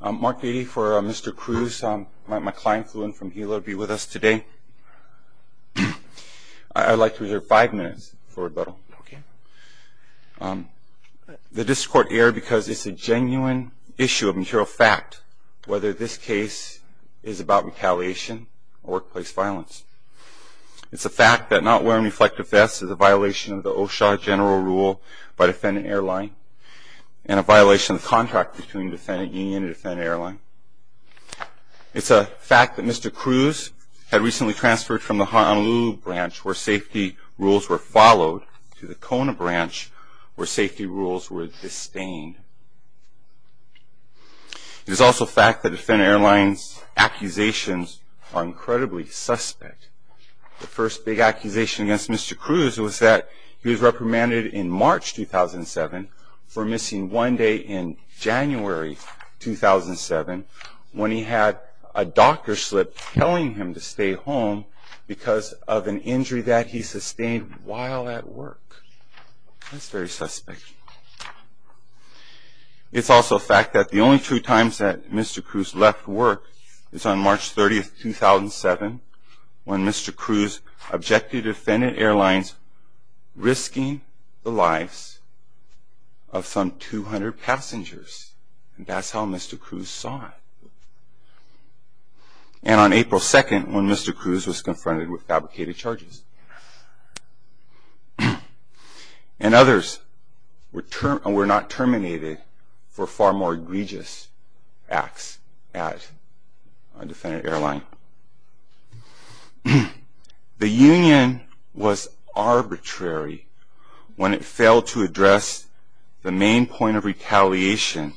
Mark Beatty for Mr. Cruz. My client flew in from Hilo to be with us today. I'd like to reserve five minutes for rebuttal. The district court erred because it's a genuine issue of material fact whether this case is about retaliation or workplace violence. It's a fact that not wearing reflective vests is a violation of the OSHA general rule by defendant airline and a violation of the contract between defendant union and defendant airline. It's a fact that Mr. Cruz had recently transferred from the Honolulu branch where safety rules were followed to the Kona branch where safety rules were disdained. It is also fact that defendant airline's accusations are incredibly suspect. The first big accusation against Mr. Cruz was that he was reprimanded in March 2007 for missing one day in January 2007 when he had a doctor slip telling him to stay home because of an injury that he sustained while at work. That's very suspect. It's also a fact that the only two times that Mr. Cruz left work is on March 30, 2007 when Mr. Cruz objected to defendant airlines risking the lives of some 200 passengers. And that's how Mr. Cruz saw it. And on April 2nd when Mr. Cruz was confronted with the union was arbitrary when it failed to address the main point of retaliation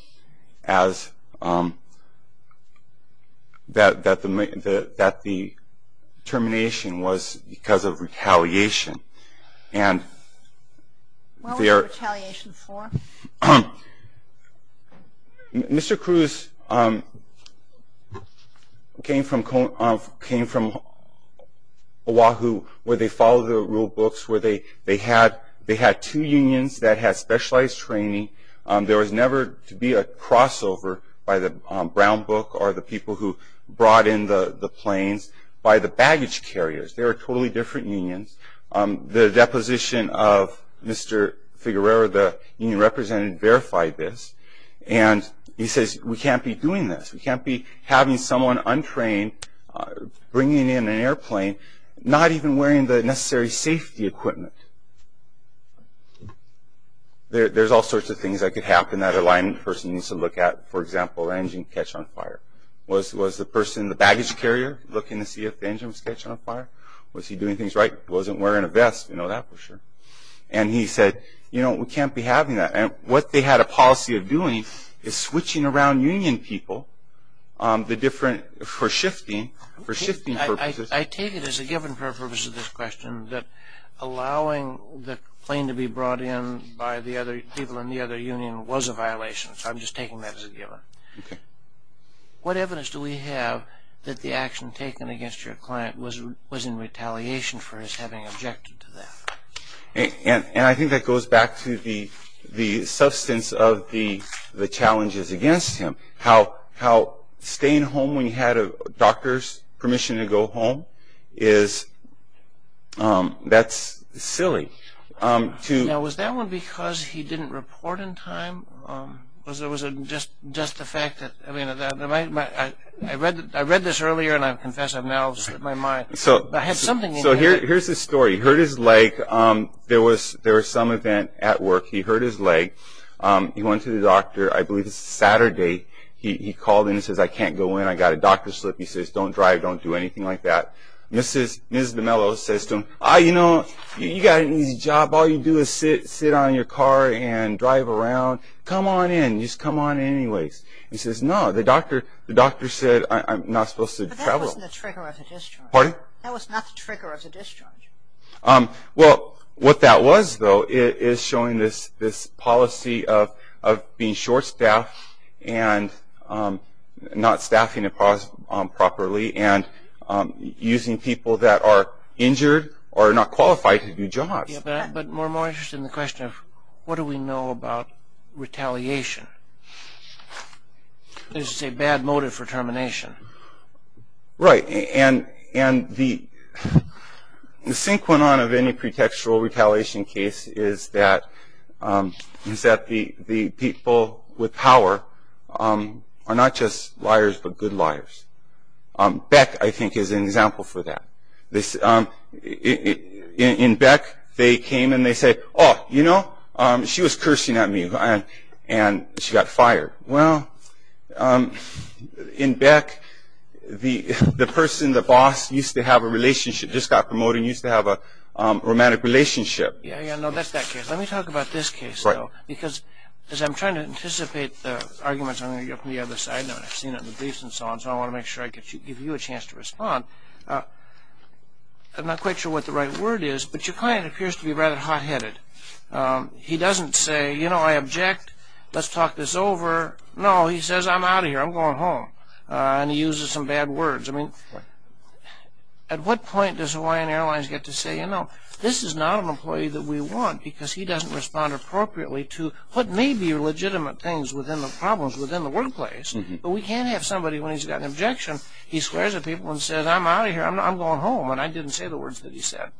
as that the termination was because of retaliation. What was retaliation for? Mr. Cruz came from Oahu where they followed the rule books. They had two unions that had specialized training. There was never to be a crossover by the brown book or the people who brought in the planes by the The deposition of Mr. Figueroa, the union representative, verified this and he says we can't be doing this. We can't be having someone untrained bringing in an airplane not even wearing the necessary safety equipment. There's all sorts of things that could happen that an airline person needs to look at. For example, engine catch on fire. Was the person, the baggage carrier, looking to see if the engine was catching on fire? Was he doing things right? Wasn't wearing a vest, we know that for sure. And he said, you know, we can't be having that. And what they had a policy of doing is switching around union people for shifting purposes. I take it as a given for the purpose of this question that allowing the plane to be brought in by the other people in the other union was a violation. So I'm just taking that as a given. What evidence do we have that the action taken against your client was in retaliation for his having objected to that? And I think that goes back to the substance of the challenges against him. How staying home when you had a doctor's permission to go home is, that's silly. Now was that one because he didn't report in time? Or was it just the fact that, I read this earlier and I confess I've now slipped my mind. But I had something in mind. All you do is sit on your car and drive around. Come on in. Just come on in anyways. He says, no, the doctor said I'm not supposed to travel. But that wasn't the trigger of the discharge. Pardon? That was not the trigger of the discharge. Well, what that was though is showing this policy of being short-staffed and not staffing properly and using people that are injured or not qualified to do jobs. But we're more interested in the question of what do we know about retaliation? There's a bad motive for termination. Right. And the synchronon of any pretextual retaliation case is that the people with power are not just liars but good liars. Beck, I think, is an example for that. In Beck, they came and they said, oh, you know, she was cursing at me and she got fired. Well, in Beck, the person, the boss, used to have a relationship, just got promoted and used to have a romantic relationship. Yeah, yeah, no, that's that case. Let me talk about this case though. Right. Because as I'm trying to anticipate the arguments, I'm going to go from the other side now and I've seen it in the briefs and so on, so I want to make sure I give you a chance to respond. I'm not quite sure what the right word is, but your client appears to be rather hot-headed. He doesn't say, you know, I object, let's talk this over. No, he says, I'm out of here, I'm going home, and he uses some bad words. I mean, at what point does Hawaiian Airlines get to say, you know, this is not an employee that we want, because he doesn't respond appropriately to what may be legitimate things within the problems within the workplace. But we can't have somebody, when he's got an objection, he swears at people and says, I'm out of here, I'm going home, and I didn't say the words that he said.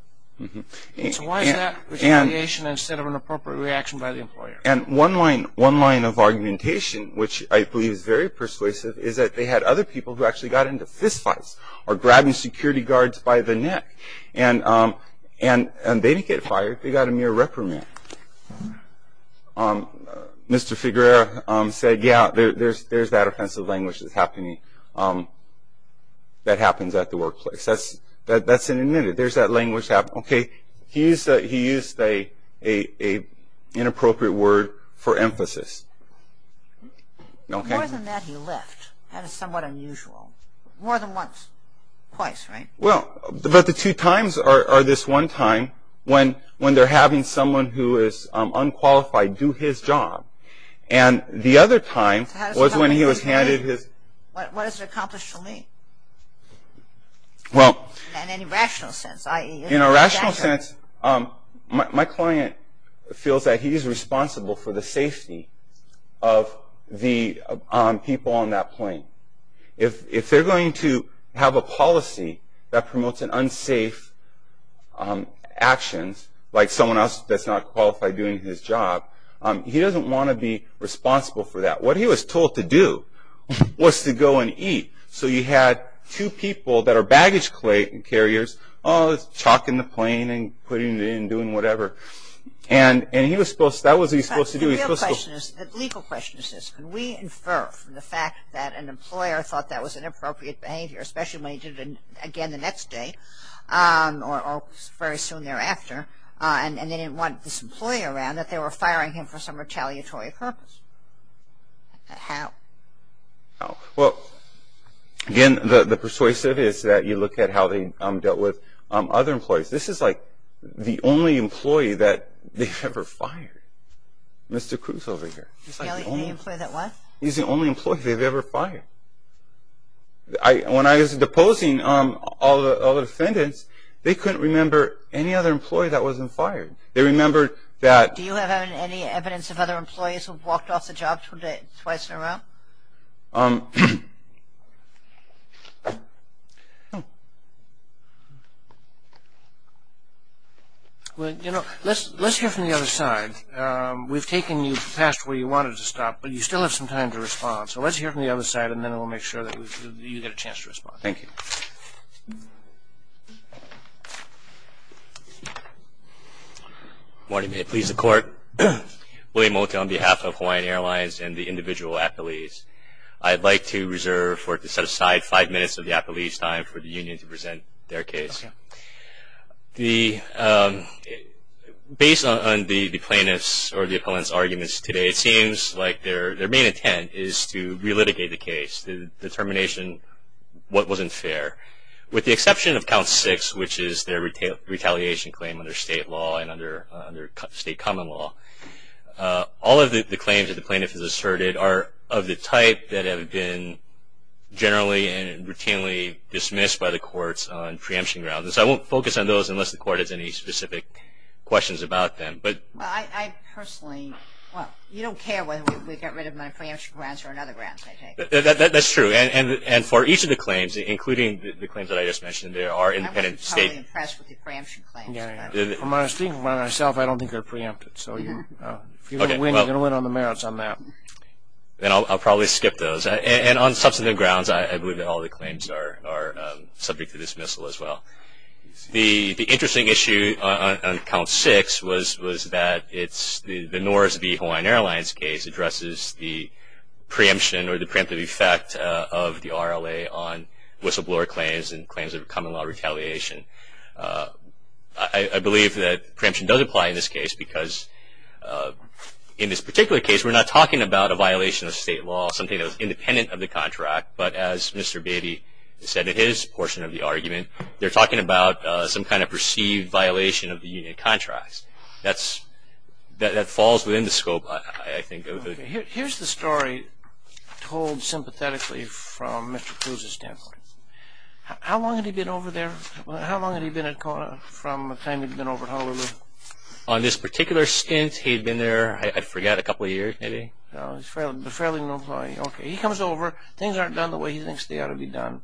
So why is that retaliation instead of an appropriate reaction by the employer? And one line of argumentation, which I believe is very persuasive, is that they had other people who actually got into fistfights or grabbing security guards by the neck, and they didn't get fired, they got a mere reprimand. Mr. Figueroa said, yeah, there's that offensive language that's happening that happens at the workplace. That's an admitted, there's that language happening. Okay, he used an inappropriate word for emphasis. More than that, he left. That is somewhat unusual. More than once, twice, right? Well, but the two times are this one time when they're having someone who is unqualified do his job. And the other time was when he was handed his... In a rational sense. In a rational sense, my client feels that he's responsible for the safety of the people on that plane. If they're going to have a policy that promotes unsafe actions, like someone else that's not qualified doing his job, he doesn't want to be responsible for that. What he was told to do was to go and eat. So you had two people that are baggage carriers chalking the plane and putting it in, doing whatever. And he was supposed, that was what he was supposed to do. The legal question is this. Can we infer from the fact that an employer thought that was inappropriate behavior, especially when he did it again the next day or very soon thereafter, and they didn't want this employee around, that they were firing him for some retaliatory purpose? How? Well, again, the persuasive is that you look at how they dealt with other employees. This is like the only employee that they've ever fired. Mr. Cruz over here. He's the only employee they've ever fired. When I was deposing all the defendants, they couldn't remember any other employee that wasn't fired. They remembered that... Well, you know, let's hear from the other side. We've taken you past where you wanted to stop, but you still have some time to respond. So let's hear from the other side, and then we'll make sure that you get a chance to respond. Thank you. Good morning. May it please the court. William Mota on behalf of Hawaiian Airlines and the individual appellees. I'd like to reserve or to set aside five minutes of the appellee's time for the union to present their case. Based on the plaintiff's or the appellant's arguments today, it seems like their main intent is to relitigate the case, the determination what wasn't fair. With the exception of count six, which is their retaliation claim under state law and under state common law, all of the claims that the plaintiff has asserted are of the type that have been generally and routinely dismissed by the courts on preemption grounds. So I won't focus on those unless the court has any specific questions about them. Well, I personally... Well, you don't care whether we get rid of my preemption grounds or another grounds, I take it. That's true. And for each of the claims, including the claims that I just mentioned, there are independent state... I'm probably impressed with the preemption claims. From what I was thinking about myself, I don't think they're preempted. So if you're going to win, you're going to win on the merits on that. Then I'll probably skip those. And on substantive grounds, I believe that all the claims are subject to dismissal as well. The interesting issue on count six was that the Norris v. Hawaiian Airlines case addresses the preemption or the preemptive effect of the RLA on whistleblower claims and claims of common law retaliation. I believe that preemption does apply in this case because in this particular case, we're not talking about a violation of state law, something that was independent of the contract, but as Mr. Baby said in his portion of the argument, they're talking about some kind of perceived violation of the union contracts. That falls within the scope, I think. Here's the story told sympathetically from Mr. Cruz's standpoint. How long had he been over there? How long had he been at Kona from the time he'd been over at Honolulu? On this particular stint, he'd been there, I forget, a couple of years maybe. He's a fairly known employee. He comes over. Things aren't done the way he thinks they ought to be done.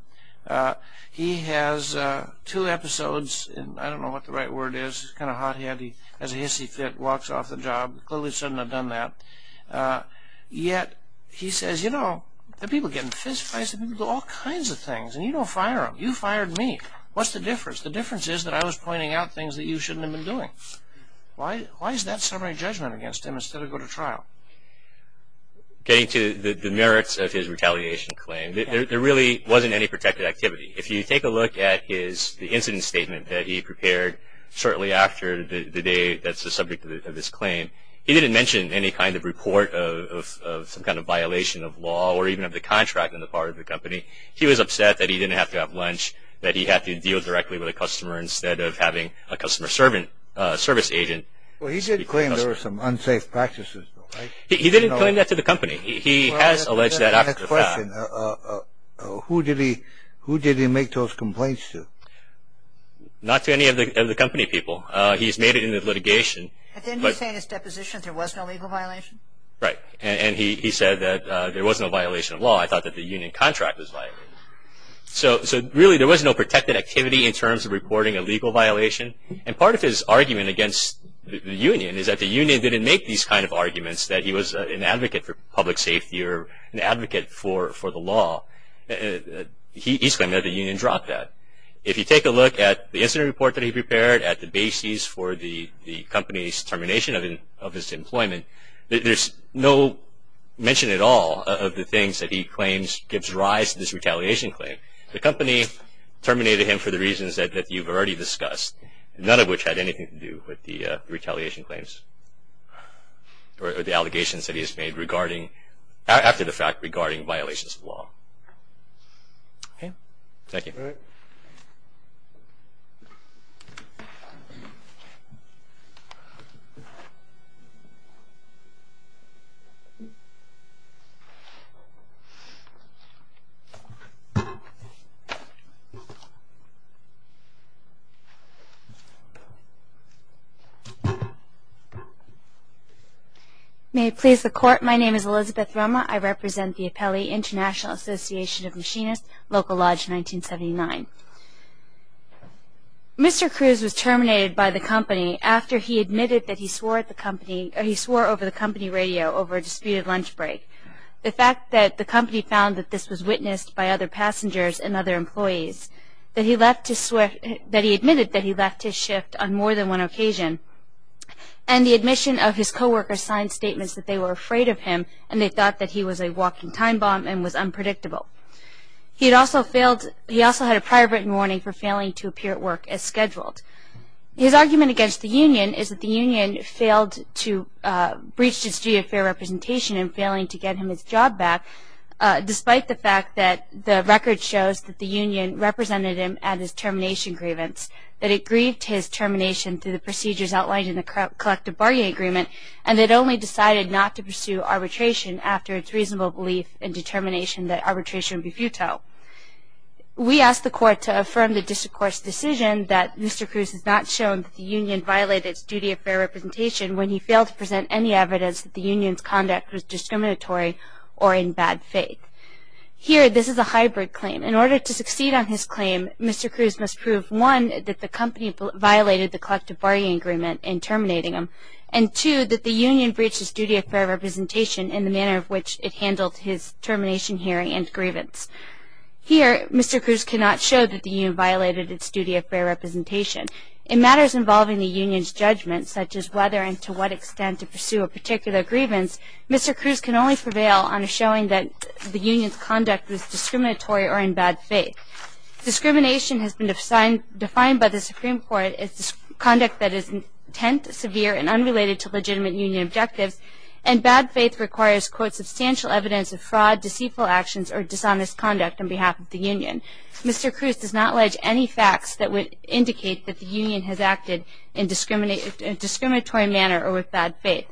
He has two episodes. I don't know what the right word is. He's kind of hot-headed. He has a hissy fit, walks off the job. Clearly shouldn't have done that. Yet he says, you know, the people get in fist fights. The people do all kinds of things, and you don't fire them. You fired me. What's the difference? The difference is that I was pointing out things that you shouldn't have been doing. Why is that summary judgment against him instead of going to trial? Getting to the merits of his retaliation claim, there really wasn't any protected activity. If you take a look at the incident statement that he prepared shortly after the day that's the subject of his claim, he didn't mention any kind of report of some kind of violation of law or even of the contract on the part of the company. He was upset that he didn't have to have lunch, that he had to deal directly with a customer instead of having a customer service agent. Well, he did claim there were some unsafe practices, though, right? He didn't claim that to the company. He has alleged that after the fact. Who did he make those complaints to? Not to any of the company people. He's made it into litigation. But didn't he say in his deposition there was no legal violation? Right, and he said that there was no violation of law. I thought that the union contract was violated. So really there was no protected activity in terms of reporting a legal violation, and part of his argument against the union is that the union didn't make these kind of arguments, that he was an advocate for public safety or an advocate for the law. He's claimed that the union dropped that. If you take a look at the incident report that he prepared at the bases for the company's termination of his employment, there's no mention at all of the things that he claims gives rise to this retaliation claim. The company terminated him for the reasons that you've already discussed, none of which had anything to do with the retaliation claims or the allegations that he has made after the fact regarding violations of law. Okay, thank you. All right. May it please the Court, my name is Elizabeth Romer. I represent the Appellee International Association of Machinists, Local Lodge 1979. Mr. Cruz was terminated by the company after he admitted that he swore at the company, or he swore over the company radio over a disputed lunch break. The fact that the company found that this was witnessed by other passengers and other employees, that he admitted that he left his shift on more than one occasion, and the admission of his co-worker's signed statements that they were afraid of him and they thought that he was a walking time bomb and was unpredictable. He had also failed, he also had a prior written warning for failing to appear at work as scheduled. His argument against the union is that the union failed to, breached its duty of fair representation in failing to get him his job back, despite the fact that the record shows that the union represented him at his termination grievance, that it grieved his termination through the procedures outlined in the collective bargaining agreement, and it only decided not to pursue arbitration after its reasonable belief and determination that arbitration would be futile. We ask the court to affirm the district court's decision that Mr. Cruz has not shown that the union violated its duty of fair representation when he failed to present any evidence that the union's conduct was discriminatory or in bad faith. Here, this is a hybrid claim. In order to succeed on his claim, Mr. Cruz must prove, one, that the company violated the collective bargaining agreement in terminating him, and two, that the union breached its duty of fair representation in the manner in which it handled his termination hearing and grievance. Here, Mr. Cruz cannot show that the union violated its duty of fair representation. In matters involving the union's judgment, such as whether and to what extent to pursue a particular grievance, Mr. Cruz can only prevail on showing that the union's conduct was discriminatory or in bad faith. Discrimination has been defined by the Supreme Court as conduct that is intense, severe, and unrelated to legitimate union objectives, and bad faith requires, quote, substantial evidence of fraud, deceitful actions, or dishonest conduct on behalf of the union. Mr. Cruz does not allege any facts that would indicate that the union has acted in a discriminatory manner or with bad faith.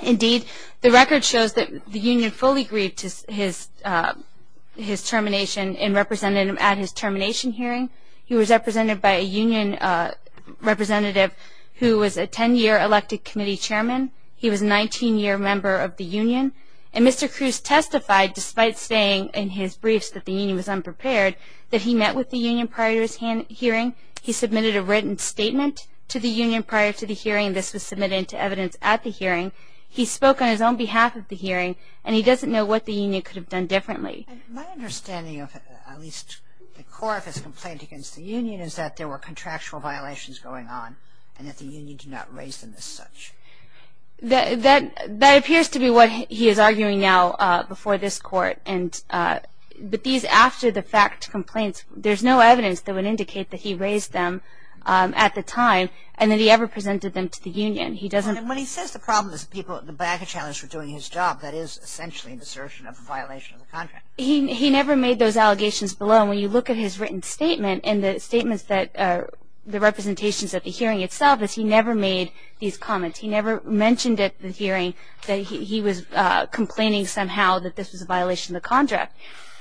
Indeed, the record shows that the union fully agreed to his termination and represented him at his termination hearing. He was represented by a union representative who was a 10-year elected committee chairman. He was a 19-year member of the union. And Mr. Cruz testified, despite saying in his briefs that the union was unprepared, that he met with the union prior to his hearing. He submitted a written statement to the union prior to the hearing. This was submitted to evidence at the hearing. He spoke on his own behalf at the hearing, and he doesn't know what the union could have done differently. My understanding of at least the court of his complaint against the union is that there were contractual violations going on and that the union did not raise them as such. That appears to be what he is arguing now before this court. But these after-the-fact complaints, there's no evidence that would indicate that he raised them at the time and that he ever presented them to the union. He doesn't When he says the problem is the people at the back of the challenge were doing his job, that is essentially an assertion of a violation of the contract. He never made those allegations below. And when you look at his written statement and the statements that, the representations at the hearing itself is he never made these comments. He never mentioned at the hearing that he was complaining somehow that this was a violation of the contract.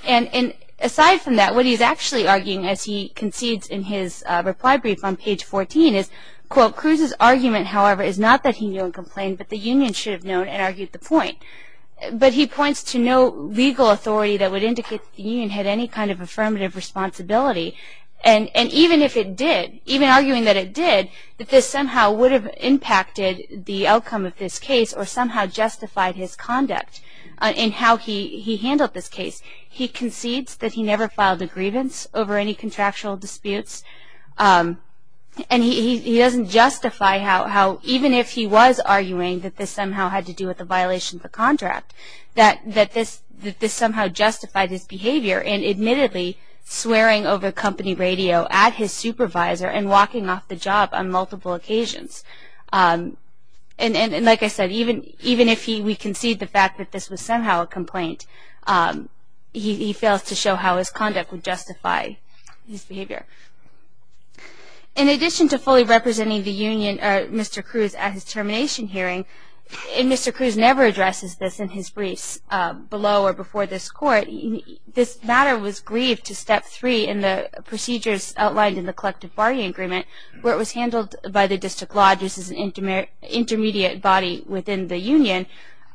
And aside from that, what he's actually arguing, as he concedes in his reply brief on page 14 is, quote, Cruz's argument, however, is not that he knew and complained, but the union should have known and argued the point. But he points to no legal authority that would indicate the union had any kind of affirmative responsibility. And even if it did, even arguing that it did, that this somehow would have impacted the outcome of this case or somehow justified his conduct in how he handled this case. He concedes that he never filed a grievance over any contractual disputes. And he doesn't justify how, even if he was arguing that this somehow had to do with a violation of the contract, that this somehow justified his behavior in admittedly swearing over company radio at his supervisor and walking off the job on multiple occasions. And like I said, even if we concede the fact that this was somehow a complaint, he fails to show how his conduct would justify his behavior. In addition to fully representing the union or Mr. Cruz at his termination hearing, and Mr. Cruz never addresses this in his briefs below or before this court, this matter was grieved to step three in the procedures outlined in the collective bargaining agreement, where it was handled by the district law just as an intermediate body within the union.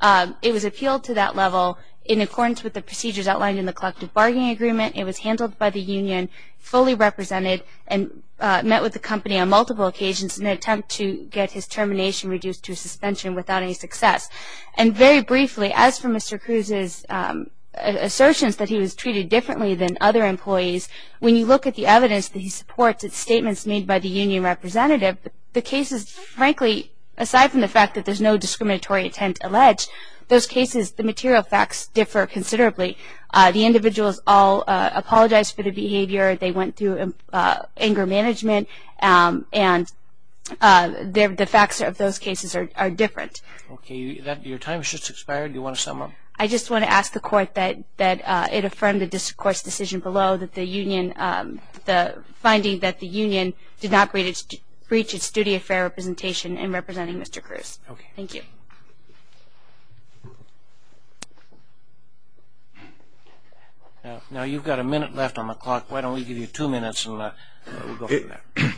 It was appealed to that level in accordance with the procedures outlined in the collective bargaining agreement. It was handled by the union, fully represented, and met with the company on multiple occasions in an attempt to get his termination reduced to suspension without any success. And very briefly, as for Mr. Cruz's assertions that he was treated differently than other employees, when you look at the evidence that he supports, its statements made by the union representative, the cases, frankly, aside from the fact that there's no discriminatory intent alleged, those cases, the material facts differ considerably. The individuals all apologized for the behavior. They went through anger management. And the facts of those cases are different. Okay. Your time has just expired. Do you want to sum up? I just want to ask the court that it affirmed the discourse decision below, that the union, the finding that the union did not reach its duty of fair representation in representing Mr. Cruz. Okay. Thank you. Now you've got a minute left on the clock. Why don't we give you two minutes and we'll go from there.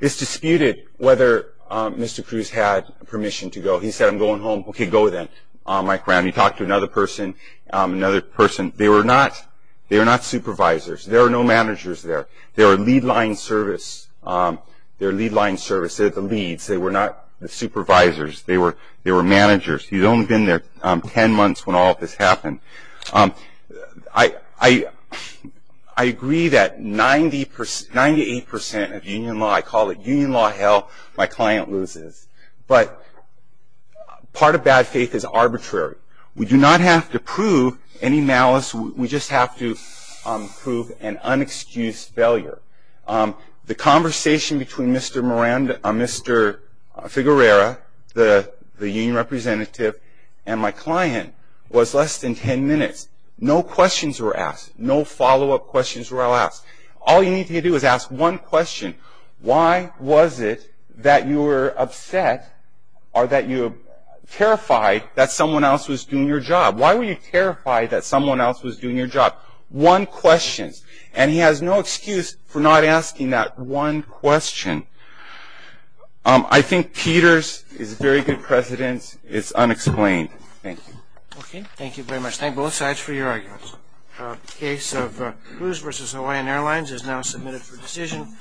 It's disputed whether Mr. Cruz had permission to go. He said, I'm going home. Okay, go then, Mike Brown. He talked to another person. They were not supervisors. There are no managers there. They're a lead line service. They're the leads. They were not the supervisors. They were managers. He's only been there ten months when all of this happened. I agree that 98% of union law, I call it union law hell, my client loses. But part of bad faith is arbitrary. We do not have to prove any malice. We just have to prove an unexcused failure. The conversation between Mr. Figuerera, the union representative, and my client was less than ten minutes. No questions were asked. No follow-up questions were asked. All you need to do is ask one question. Why was it that you were upset or that you were terrified that someone else was doing your job? Why were you terrified that someone else was doing your job? One question. And he has no excuse for not asking that one question. I think Peters is very good precedent. It's unexplained. Thank you. Okay, thank you very much. Thank both sides for your arguments. Case of Cruz v. Hawaiian Airlines is now submitted for decision.